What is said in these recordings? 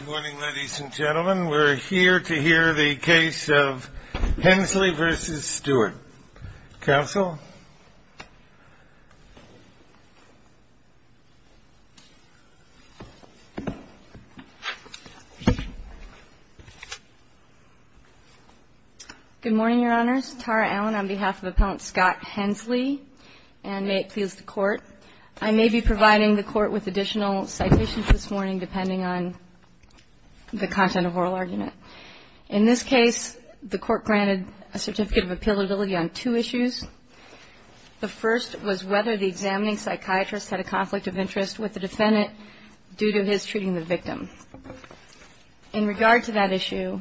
Good morning, ladies and gentlemen. We're here to hear the case of Henslee v. Stewart. Counsel? Good morning, Your Honors. Tara Allen on behalf of Appellant Scott Henslee, and may it please the Court, I may be providing the Court with additional citations this morning depending on the content of oral argument. In this case, the Court granted a certificate of appealability on two issues. The first was whether the examining psychiatrist had a conflict of interest with the defendant due to his treating the victim. In regard to that issue,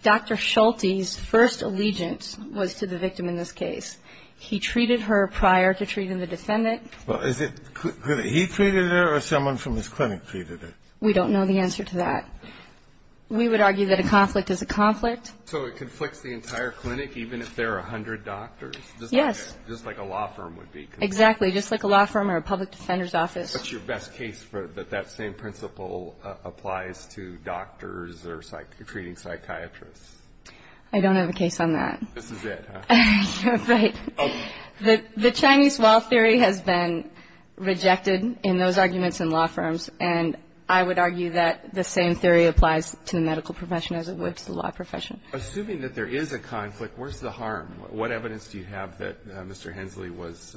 Dr. Schulte's first allegiance was to the victim in this case. He treated her prior to treating the defendant. Well, is it he treated her or someone from his clinic treated her? We don't know the answer to that. We would argue that a conflict is a conflict. So it conflicts the entire clinic, even if there are 100 doctors? Yes. Just like a law firm would be. Exactly. Just like a law firm or a public defender's office. What's your best case that that same principle applies to doctors or treating psychiatrists? I don't have a case on that. This is it, huh? Right. The Chinese law theory has been rejected in those arguments in law firms, and I would argue that the same theory applies to the medical profession as it would to the law profession. Assuming that there is a conflict, where's the harm? What evidence do you have that Mr. Hensley was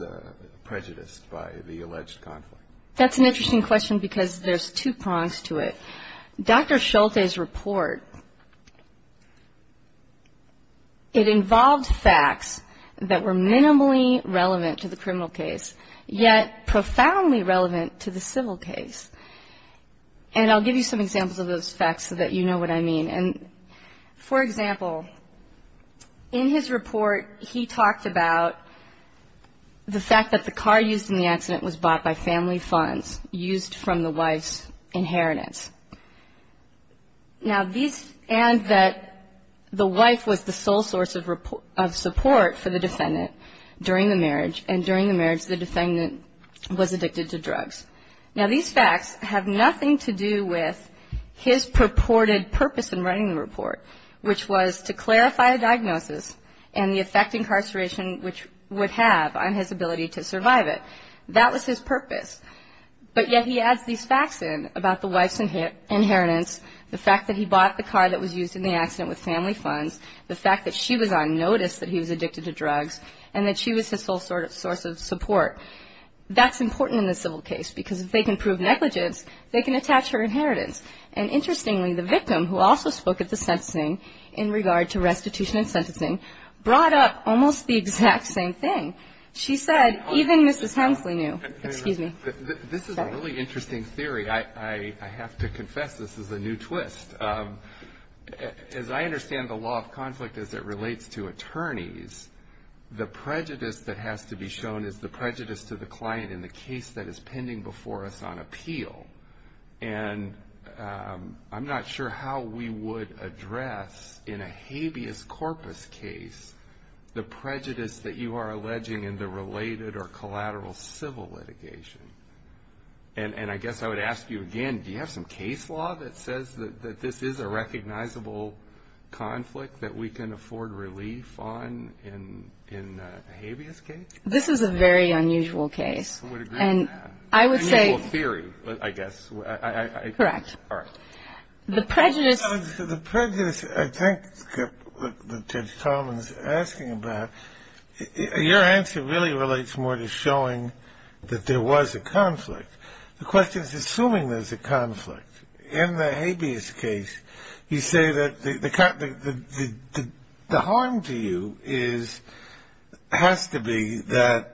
prejudiced by the alleged conflict? That's an interesting question because there's two prongs to it. Dr. Schulte's report, it involved facts that were minimally relevant to the criminal case, yet profoundly relevant to the civil case. And I'll give you some examples of those facts so that you know what I mean. And, for example, in his report, he talked about the fact that the car used in the accident was bought by family funds, used from the wife's inheritance. Now, these add that the wife was the sole source of support for the defendant during the marriage, and during the marriage, the defendant was addicted to drugs. Now, these facts have nothing to do with his purported purpose in writing the report, which was to clarify a diagnosis and the effect incarceration would have on his ability to survive it. That was his purpose. But yet he adds these facts in about the wife's inheritance, the fact that he bought the car that was used in the accident with family funds, the fact that she was on notice that he was addicted to drugs, and that she was his sole source of support. That's important in the civil case because if they can prove negligence, they can attach her inheritance. And, interestingly, the victim, who also spoke at the sentencing in regard to restitution and sentencing, brought up almost the exact same thing. She said even Mrs. Hemsley knew. Excuse me. This is a really interesting theory. I have to confess this is a new twist. As I understand the law of conflict as it relates to attorneys, the prejudice that has to be shown is the prejudice to the client in the case that is pending before us on appeal. And I'm not sure how we would address, in a habeas corpus case, the prejudice that you are alleging in the related or collateral civil litigation. And I guess I would ask you again, do you have some case law that says that this is a recognizable conflict that we can afford relief on in a habeas case? This is a very unusual case. I would agree with that. And I would say – Unusual theory, I guess. Correct. All right. The prejudice – Your answer really relates more to showing that there was a conflict. The question is assuming there's a conflict. In the habeas case, you say that the harm to you has to be that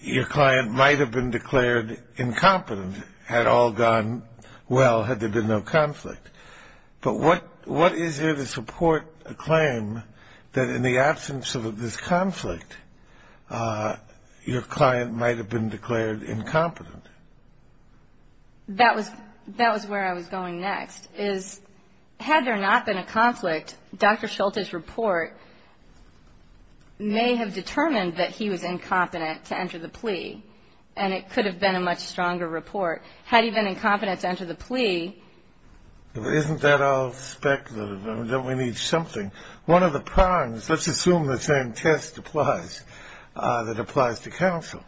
your client might have been declared incompetent had all gone well, had there been no conflict. But what is there to support a claim that in the absence of this conflict, your client might have been declared incompetent? That was where I was going next, is had there not been a conflict, Dr. Schulte's report may have determined that he was incompetent to enter the plea, and it could have been a much stronger report. Had he been incompetent to enter the plea – Isn't that all speculative? Don't we need something? One of the prongs, let's assume the same test applies, that applies to counsel.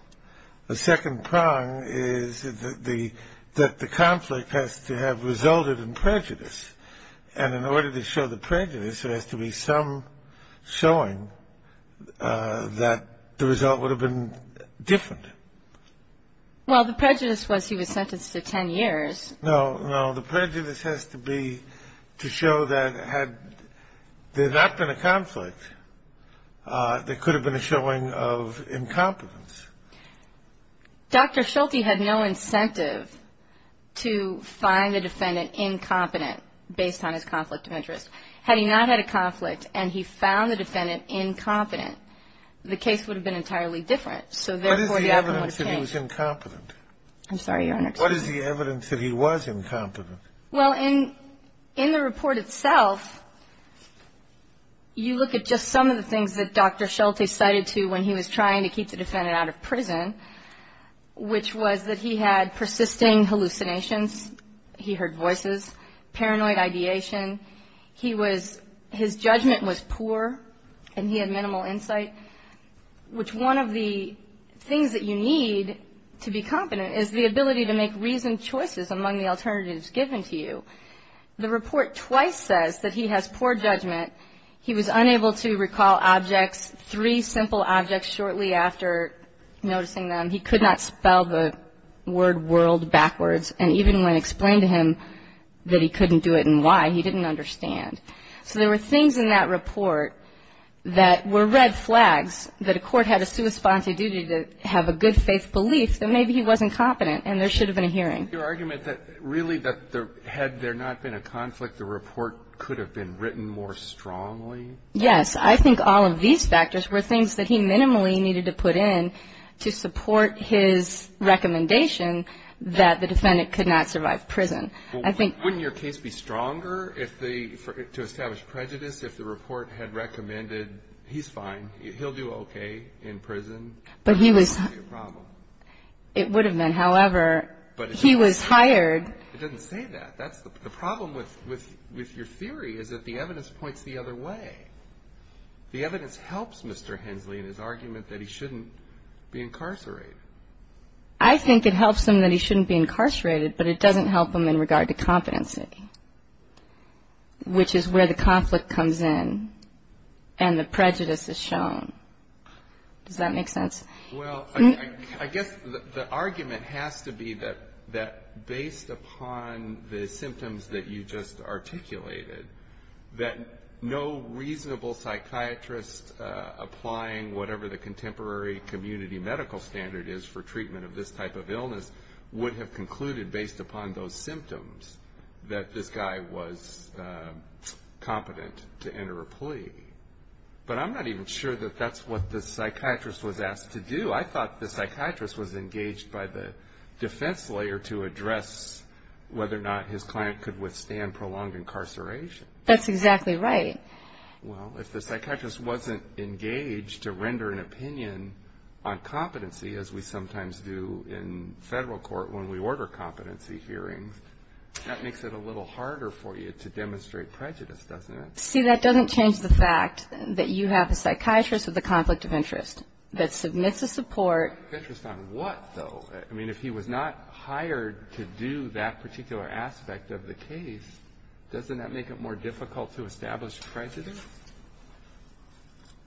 The second prong is that the conflict has to have resulted in prejudice. And in order to show the prejudice, there has to be some showing that the result would have been different. Well, the prejudice was he was sentenced to 10 years. No, no. The prejudice has to be to show that had there not been a conflict, there could have been a showing of incompetence. Dr. Schulte had no incentive to find the defendant incompetent based on his conflict of interest. Had he not had a conflict and he found the defendant incompetent, the case would have been entirely different. So therefore, the evidence would have changed. What is the evidence that he was incompetent? I'm sorry, Your Honor. What is the evidence that he was incompetent? Well, in the report itself, you look at just some of the things that Dr. Schulte cited to when he was trying to keep the defendant out of prison, which was that he had persisting hallucinations, he heard voices, paranoid ideation. He was – his judgment was poor and he had minimal insight, which one of the things that you need to be competent is the ability to make reasoned choices among the alternatives given to you. The report twice says that he has poor judgment. He was unable to recall objects, three simple objects shortly after noticing them. He could not spell the word world backwards, and even when explained to him that he couldn't do it and why, he didn't understand. So there were things in that report that were red flags, that a court had a sui sponte duty to have a good faith belief that maybe he wasn't competent and there should have been a hearing. Your argument that really that had there not been a conflict, the report could have been written more strongly? Yes. I think all of these factors were things that he minimally needed to put in to support his recommendation that the defendant could not survive prison. Wouldn't your case be stronger if the – to establish prejudice if the report had recommended he's fine, he'll do okay in prison? But he was – It wouldn't be a problem. It would have been. However, he was hired. It doesn't say that. The problem with your theory is that the evidence points the other way. The evidence helps Mr. Hensley in his argument that he shouldn't be incarcerated. I think it helps him that he shouldn't be incarcerated, but it doesn't help him in regard to competency, which is where the conflict comes in and the prejudice is shown. Does that make sense? Well, I guess the argument has to be that based upon the symptoms that you just articulated, that no reasonable psychiatrist applying whatever the contemporary community medical standard is for treatment of this type of illness would have concluded based upon those symptoms that this guy was competent to enter a plea. But I'm not even sure that that's what the psychiatrist was asked to do. I thought the psychiatrist was engaged by the defense lawyer to address whether or not his client could withstand prolonged incarceration. That's exactly right. Well, if the psychiatrist wasn't engaged to render an opinion on competency, as we sometimes do in federal court when we order competency hearings, that makes it a little harder for you to demonstrate prejudice, doesn't it? See, that doesn't change the fact that you have a psychiatrist with a conflict of interest that submits a support. Conflict of interest on what, though? I mean, if he was not hired to do that particular aspect of the case, doesn't that make it more difficult to establish prejudice?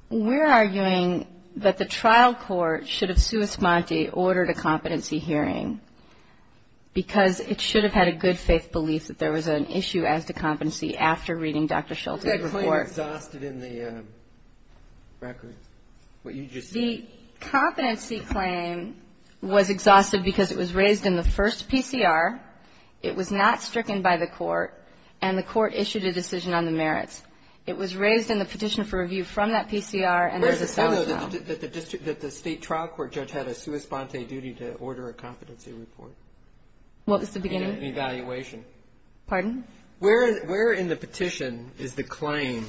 We're arguing that the trial court should have suus mante ordered a competency hearing because it should have had a good faith belief that there was an issue as to competency after reading Dr. Schulte's report. Wasn't that claim exhausted in the record? The competency claim was exhausted because it was raised in the first PCR, it was not stricken by the court, and the court issued a decision on the merits. It was raised in the petition for review from that PCR and there's a sellout now. The state trial court judge had a suus mante duty to order a competency report. What was the beginning? Evaluation. Pardon? Where in the petition is the claim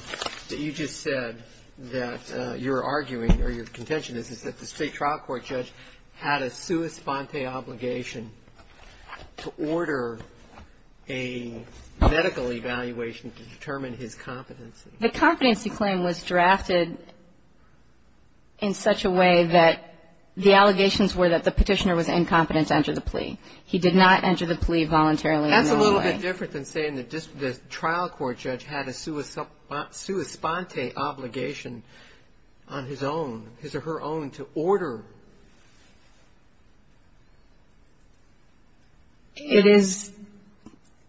that you just said that you're arguing or your contention is that the state trial court judge had a suus mante obligation to order a medical evaluation to determine his competency? The competency claim was drafted in such a way that the allegations were that the petitioner was incompetent to enter the plea. He did not enter the plea voluntarily. That's a little bit different than saying the trial court judge had a suus mante obligation on his own, his or her own, to order. It is,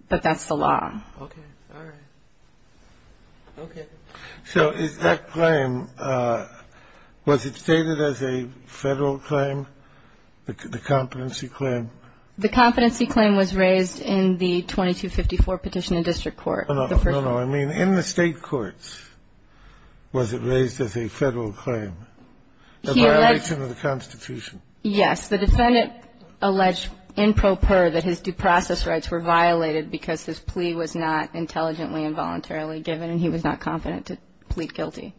but that's the law. Okay. All right. Okay. So is that claim, was it stated as a Federal claim, the competency claim? The competency claim was raised in the 2254 petition in district court. No, no. I mean, in the state courts, was it raised as a Federal claim, a violation of the Constitution? Yes. The defendant alleged in proper that his due process rights were violated because his plea was not intelligently and voluntarily given, and he was not confident to plead guilty.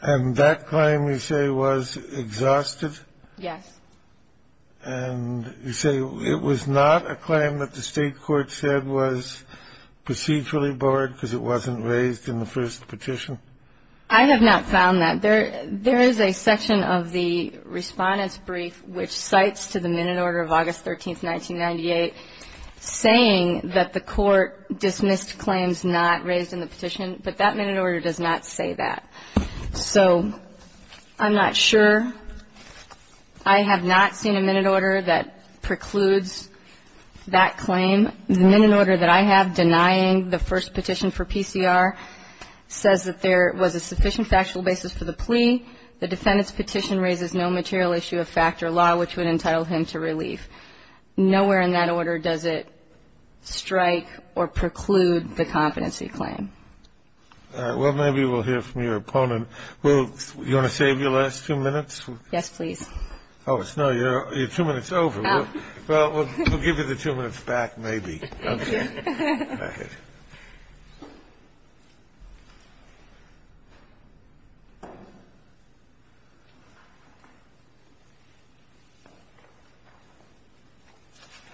And that claim, you say, was exhausted? Yes. And you say it was not a claim that the state court said was procedurally bored because it wasn't raised in the first petition? I have not found that. There is a section of the Respondent's Brief which cites to the minute order of August 13th, 1998, saying that the court dismissed claims not raised in the petition, but that minute order does not say that. So I'm not sure. I have not seen a minute order that precludes that claim. The minute order that I have denying the first petition for PCR says that there was a sufficient factual basis for the plea. The defendant's petition raises no material issue of fact or law, which would entitle him to relief. Nowhere in that order does it strike or preclude the competency claim. All right. Well, maybe we'll hear from your opponent. Will, do you want to save your last two minutes? Yes, please. Oh, it's not your two minutes over. Oh. Well, we'll give you the two minutes back maybe. Okay. Thank you. Go ahead.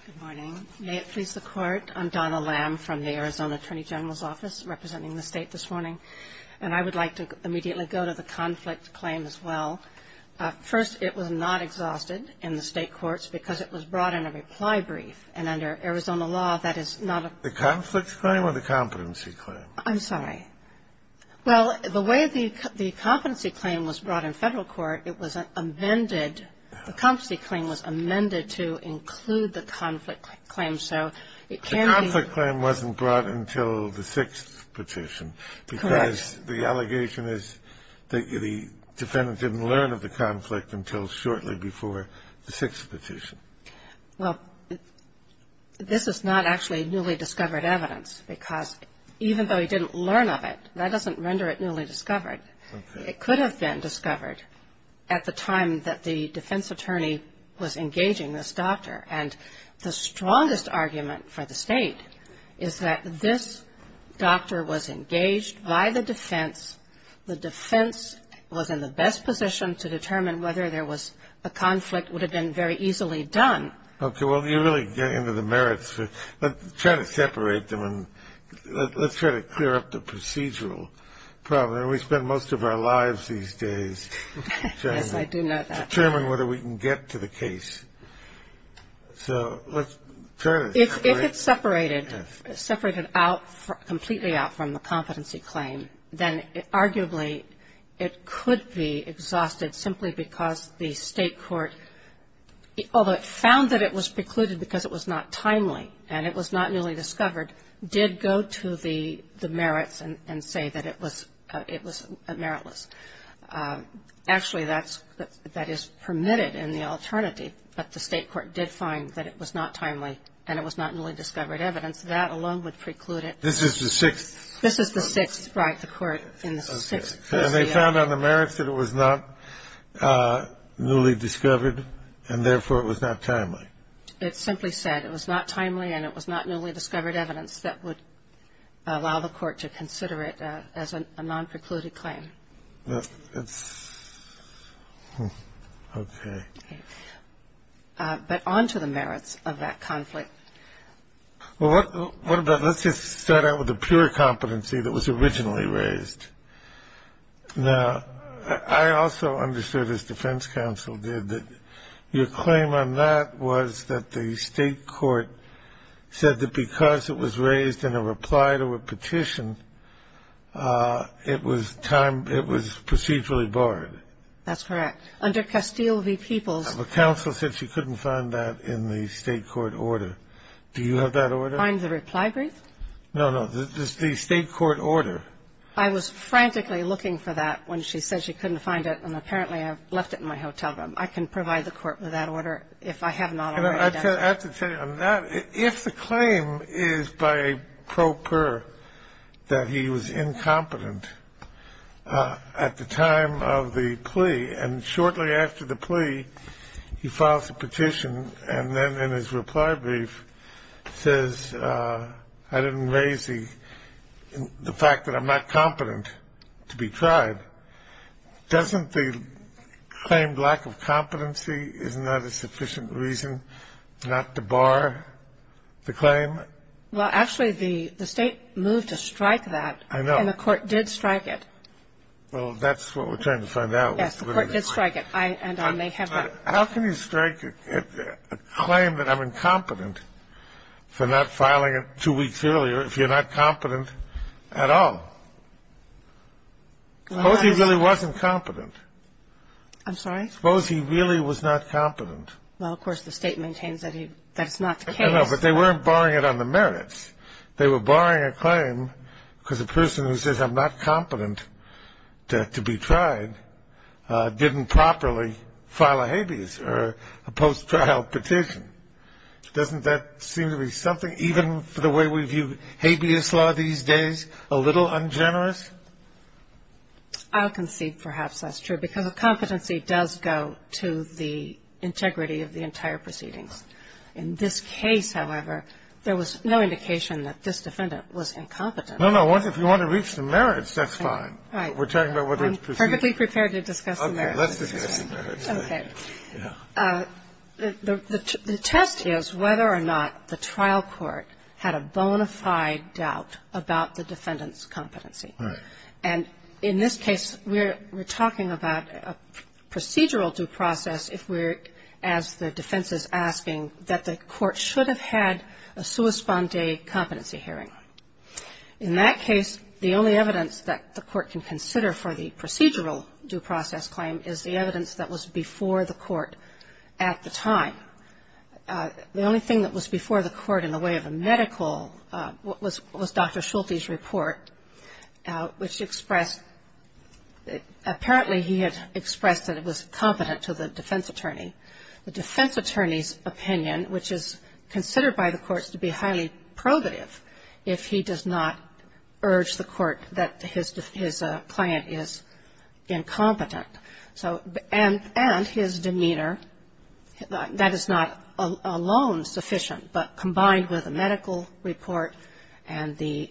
Good morning. May it please the Court. I'm Donna Lamb from the Arizona Attorney General's Office representing the State this morning. And I would like to immediately go to the conflict claim as well. First, it was not exhausted in the State courts because it was brought in a reply brief. And under Arizona law, that is not a The conflict claim or the competency claim? I'm sorry. Well, the way the competency claim was brought in Federal court, it was amended The competency claim was amended to include the conflict claim. So it can be The conflict claim wasn't brought until the sixth petition. Correct. Because the allegation is that the defendant didn't learn of the conflict until shortly before the sixth petition. Well, this is not actually newly discovered evidence because even though he didn't learn of it, that doesn't render it newly discovered. Okay. It could have been discovered at the time that the defense attorney was engaging this doctor. And the strongest argument for the State is that this doctor was engaged by the defense. The defense was in the best position to determine whether there was a conflict would have been very easily done. Okay. Well, you really get into the merits. Let's try to separate them and let's try to clear up the procedural problem. We spend most of our lives these days trying to Yes, I do know that. Determine whether we can get to the case. So let's try to separate completely out from the competency claim, then arguably it could be exhausted simply because the State court, although it found that it was precluded because it was not timely and it was not newly discovered, did go to the merits and say that it was meritless. Actually, that is permitted in the alternative, but the State court did find that it was not timely and it was not newly discovered evidence. That alone would preclude it. This is the sixth. This is the sixth. Right, the court in the sixth. And they found on the merits that it was not newly discovered and therefore it was not timely. It simply said it was not timely and it was not newly discovered evidence that would allow the court to consider it as a non-precluded claim. Okay. But on to the merits of that conflict. Well, what about, let's just start out with the pure competency that was originally raised. Now, I also understood, as defense counsel did, that your claim on that was that the State court said that because it was raised in a reply to a petition, it was procedurally barred. That's correct. Under Castile v. Peoples. Counsel said she couldn't find that in the State court order. Do you have that order? Find the reply brief? No, no. The State court order. I was frantically looking for that when she said she couldn't find it, and apparently I left it in my hotel room. I can provide the court with that order if I have not already done so. I have to tell you, on that, if the claim is by a pro per that he was incompetent at the time of the plea, and shortly after the plea, he files a petition, and then in his reply brief says, I didn't raise the fact that I'm not competent to be tried, doesn't the claimed lack of competency, isn't that a sufficient reason not to bar the claim? Well, actually, the State moved to strike that. I know. And the court did strike it. Well, that's what we're trying to find out. Yes, the court did strike it, and I may have not. How can you strike a claim that I'm incompetent for not filing it two weeks earlier if you're not competent at all? Suppose he really wasn't competent. I'm sorry? Suppose he really was not competent. Well, of course, the State maintains that that's not the case. I know, but they weren't barring it on the merits. They were barring a claim because a person who says I'm not competent to be tried didn't properly file a habeas or a post-trial petition. Doesn't that seem to be something, even for the way we view habeas law these days, a little ungenerous? I'll concede perhaps that's true, because a competency does go to the integrity of the entire proceedings. In this case, however, there was no indication that this defendant was incompetent. No, no. If you want to reach the merits, that's fine. Right. We're talking about whether it's proceeding. I'm perfectly prepared to discuss the merits. Okay. Let's discuss the merits. Okay. The test is whether or not the trial court had a bona fide doubt about the defendant's competency. Right. And in this case, we're talking about a procedural due process if we're, as the defense is asking, that the court should have had a sua sponde competency hearing. In that case, the only evidence that the court can consider for the procedural due process claim is the evidence that was before the court at the time. The only thing that was before the court in the way of a medical was Dr. Schulte's report, which expressed apparently he had expressed that it was competent to the defense attorney. The defense attorney's opinion, which is considered by the courts to be highly probative if he does not urge the court that his client is incompetent. So and his demeanor, that is not alone sufficient, but combined with a medical report and the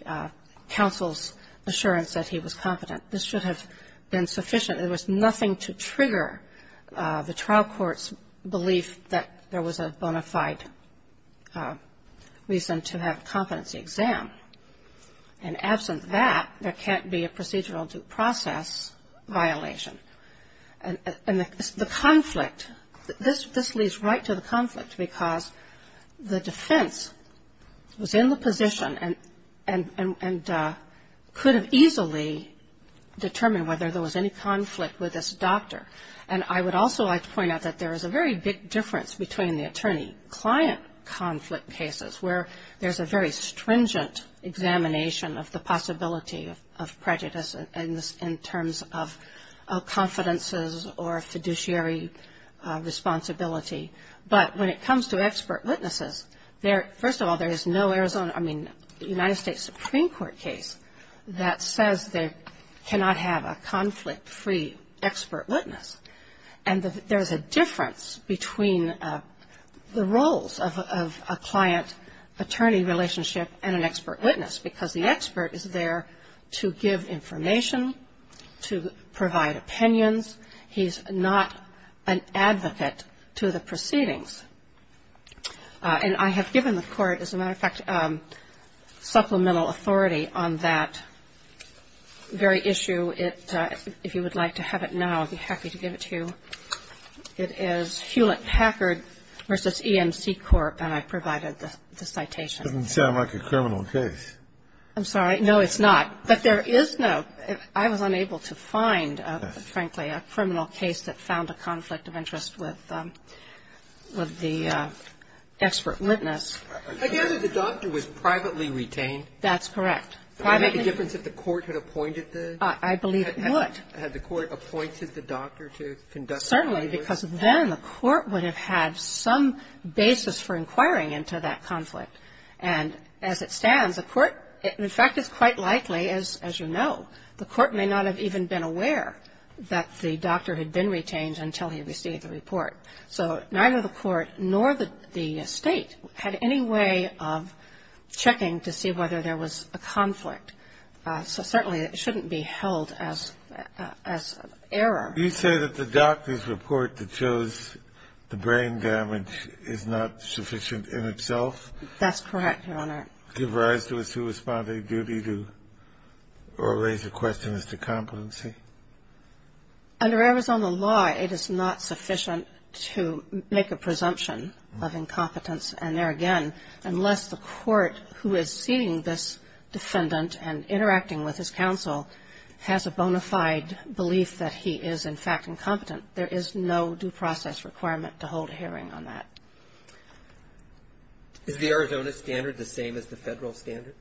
counsel's assurance that he was competent, this should have been sufficient. There was nothing to trigger the trial court's belief that there was a bona fide reason to have a competency exam. And absent that, there can't be a procedural due process violation. And the conflict, this leads right to the conflict because the defense was in the position and could have easily determined whether there was any conflict with this doctor. And I would also like to point out that there is a very big difference between the attorney-client conflict cases where there's a very stringent examination of the possibility of prejudice in terms of confidences or fiduciary responsibility. But when it comes to expert witnesses, first of all, there is no Arizona, I mean, United States Supreme Court case that says they cannot have a conflict-free expert witness. And there's a difference between the roles of a client-attorney relationship and an expert witness because the expert is there to give information, to provide opinions. He's not an advocate to the proceedings. And I have given the court, as a matter of fact, supplemental authority on that very issue. If you would like to have it now, I'd be happy to give it to you. It is Hewlett-Packard v. E&C Corp., and I provided the citation. It doesn't sound like a criminal case. I'm sorry. No, it's not. But there is no. I was unable to find, frankly, a criminal case that found a conflict of interest with the expert witness. I gather the doctor was privately retained. That's correct. Would it make a difference if the court had appointed the doctor? I believe it would. Had the court appointed the doctor to conduct the findings? Certainly, because then the court would have had some basis for inquiring into that conflict. And as it stands, the court, in fact, it's quite likely, as you know, the court may not have even been aware that the doctor had been retained until he received the report. So neither the court nor the State had any way of checking to see whether there was a conflict. So certainly it shouldn't be held as error. Do you say that the doctor's report that shows the brain damage is not sufficient in itself? That's correct, Your Honor. Give rise to a sui sponde duty to or raise a question as to competency? Under Arizona law, it is not sufficient to make a presumption of incompetence, and there again, unless the court who is seeing this defendant and interacting with his counsel has a bona fide belief that he is, in fact, incompetent. There is no due process requirement to hold a hearing on that. Is the Arizona standard the same as the Federal standard?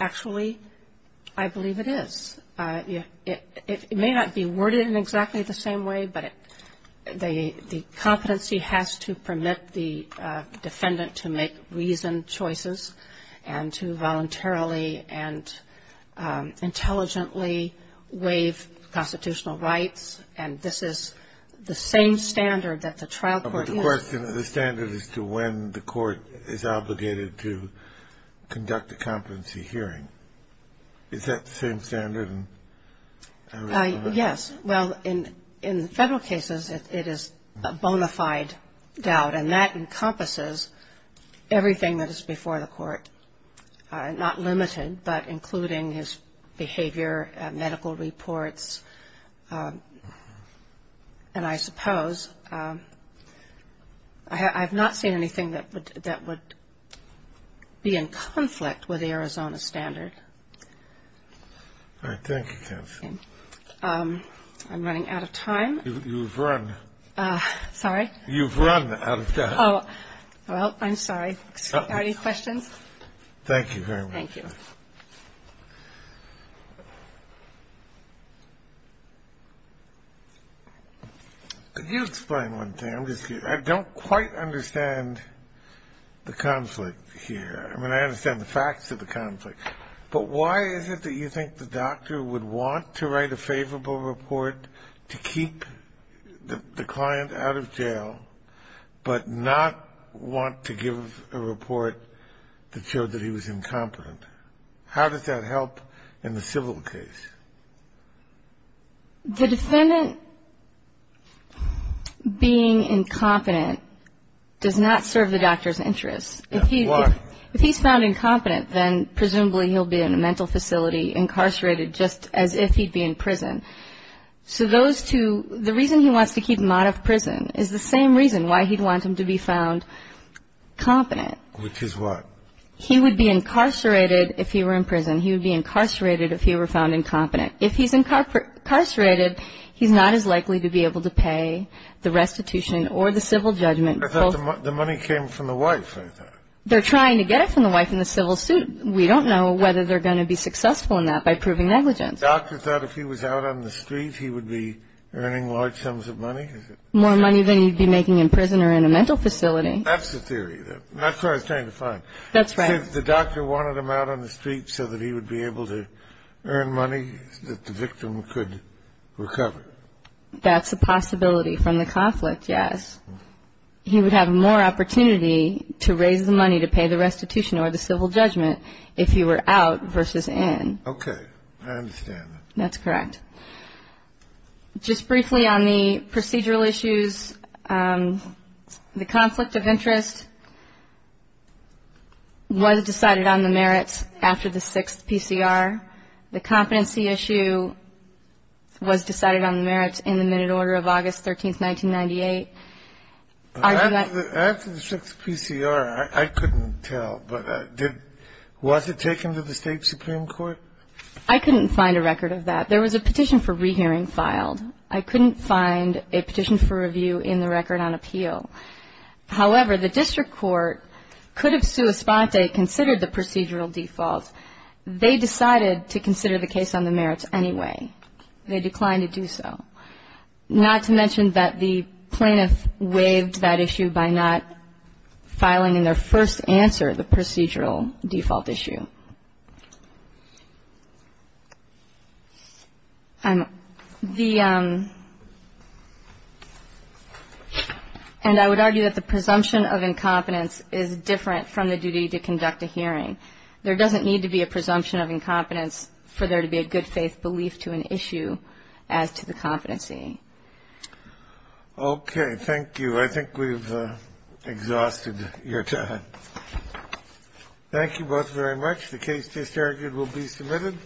Actually, I believe it is. It may not be worded in exactly the same way, but the competency has to permit the defendant to make reasoned choices and to voluntarily and intelligently waive constitutional rights. And this is the same standard that the trial court uses. The standard is to when the court is obligated to conduct a competency hearing. Is that the same standard in Arizona? Yes. Well, in Federal cases, it is a bona fide doubt, and that encompasses everything that is before the court, not limited, but including his behavior, medical reports. And I suppose I have not seen anything that would be in conflict with the Arizona standard. All right. Thank you, counsel. I'm running out of time. You've run. Sorry? You've run out of time. Oh, well, I'm sorry. Are there any questions? Thank you very much. Thank you. Could you explain one thing? I'm just curious. I don't quite understand the conflict here. I mean, I understand the facts of the conflict, but why is it that you think the doctor would want to write a favorable report to keep the client out of jail but not want to give a report that showed that he was incompetent? How does that help in the civil case? The defendant being incompetent does not serve the doctor's interests. If he's found incompetent, then presumably he'll be in a mental facility incarcerated just as if he'd be in prison. So those two, the reason he wants to keep him out of prison is the same reason why he'd want him to be found competent. Which is what? He would be incarcerated if he were in prison. He would be incarcerated if he were found incompetent. If he's incarcerated, he's not as likely to be able to pay the restitution or the civil judgment. I thought the money came from the wife, I thought. They're trying to get it from the wife in the civil suit. We don't know whether they're going to be successful in that by proving negligence. The doctor thought if he was out on the street, he would be earning large sums of money? More money than he'd be making in prison or in a mental facility. That's the theory. That's what I was trying to find. That's right. If the doctor wanted him out on the street so that he would be able to earn money, that the victim could recover. That's a possibility from the conflict, yes. He would have more opportunity to raise the money to pay the restitution or the civil judgment if he were out versus in. Okay. I understand that. That's correct. Just briefly on the procedural issues, the conflict of interest was decided on the merits after the 6th PCR. The competency issue was decided on the merits in the minute order of August 13th, 1998. After the 6th PCR, I couldn't tell, but was it taken to the State Supreme Court? I couldn't find a record of that. There was a petition for rehearing filed. I couldn't find a petition for review in the record on appeal. However, the district court could have sua sponte considered the procedural default. They decided to consider the case on the merits anyway. They declined to do so. Not to mention that the plaintiff waived that issue by not filing in their first answer the procedural default issue. And I would argue that the presumption of incompetence is different from the duty to conduct a hearing. There doesn't need to be a presumption of incompetence for there to be a good faith belief to an issue as to the competency. Okay. Thank you. I think we've exhausted your time. Thank you both very much. The case disargued will be submitted.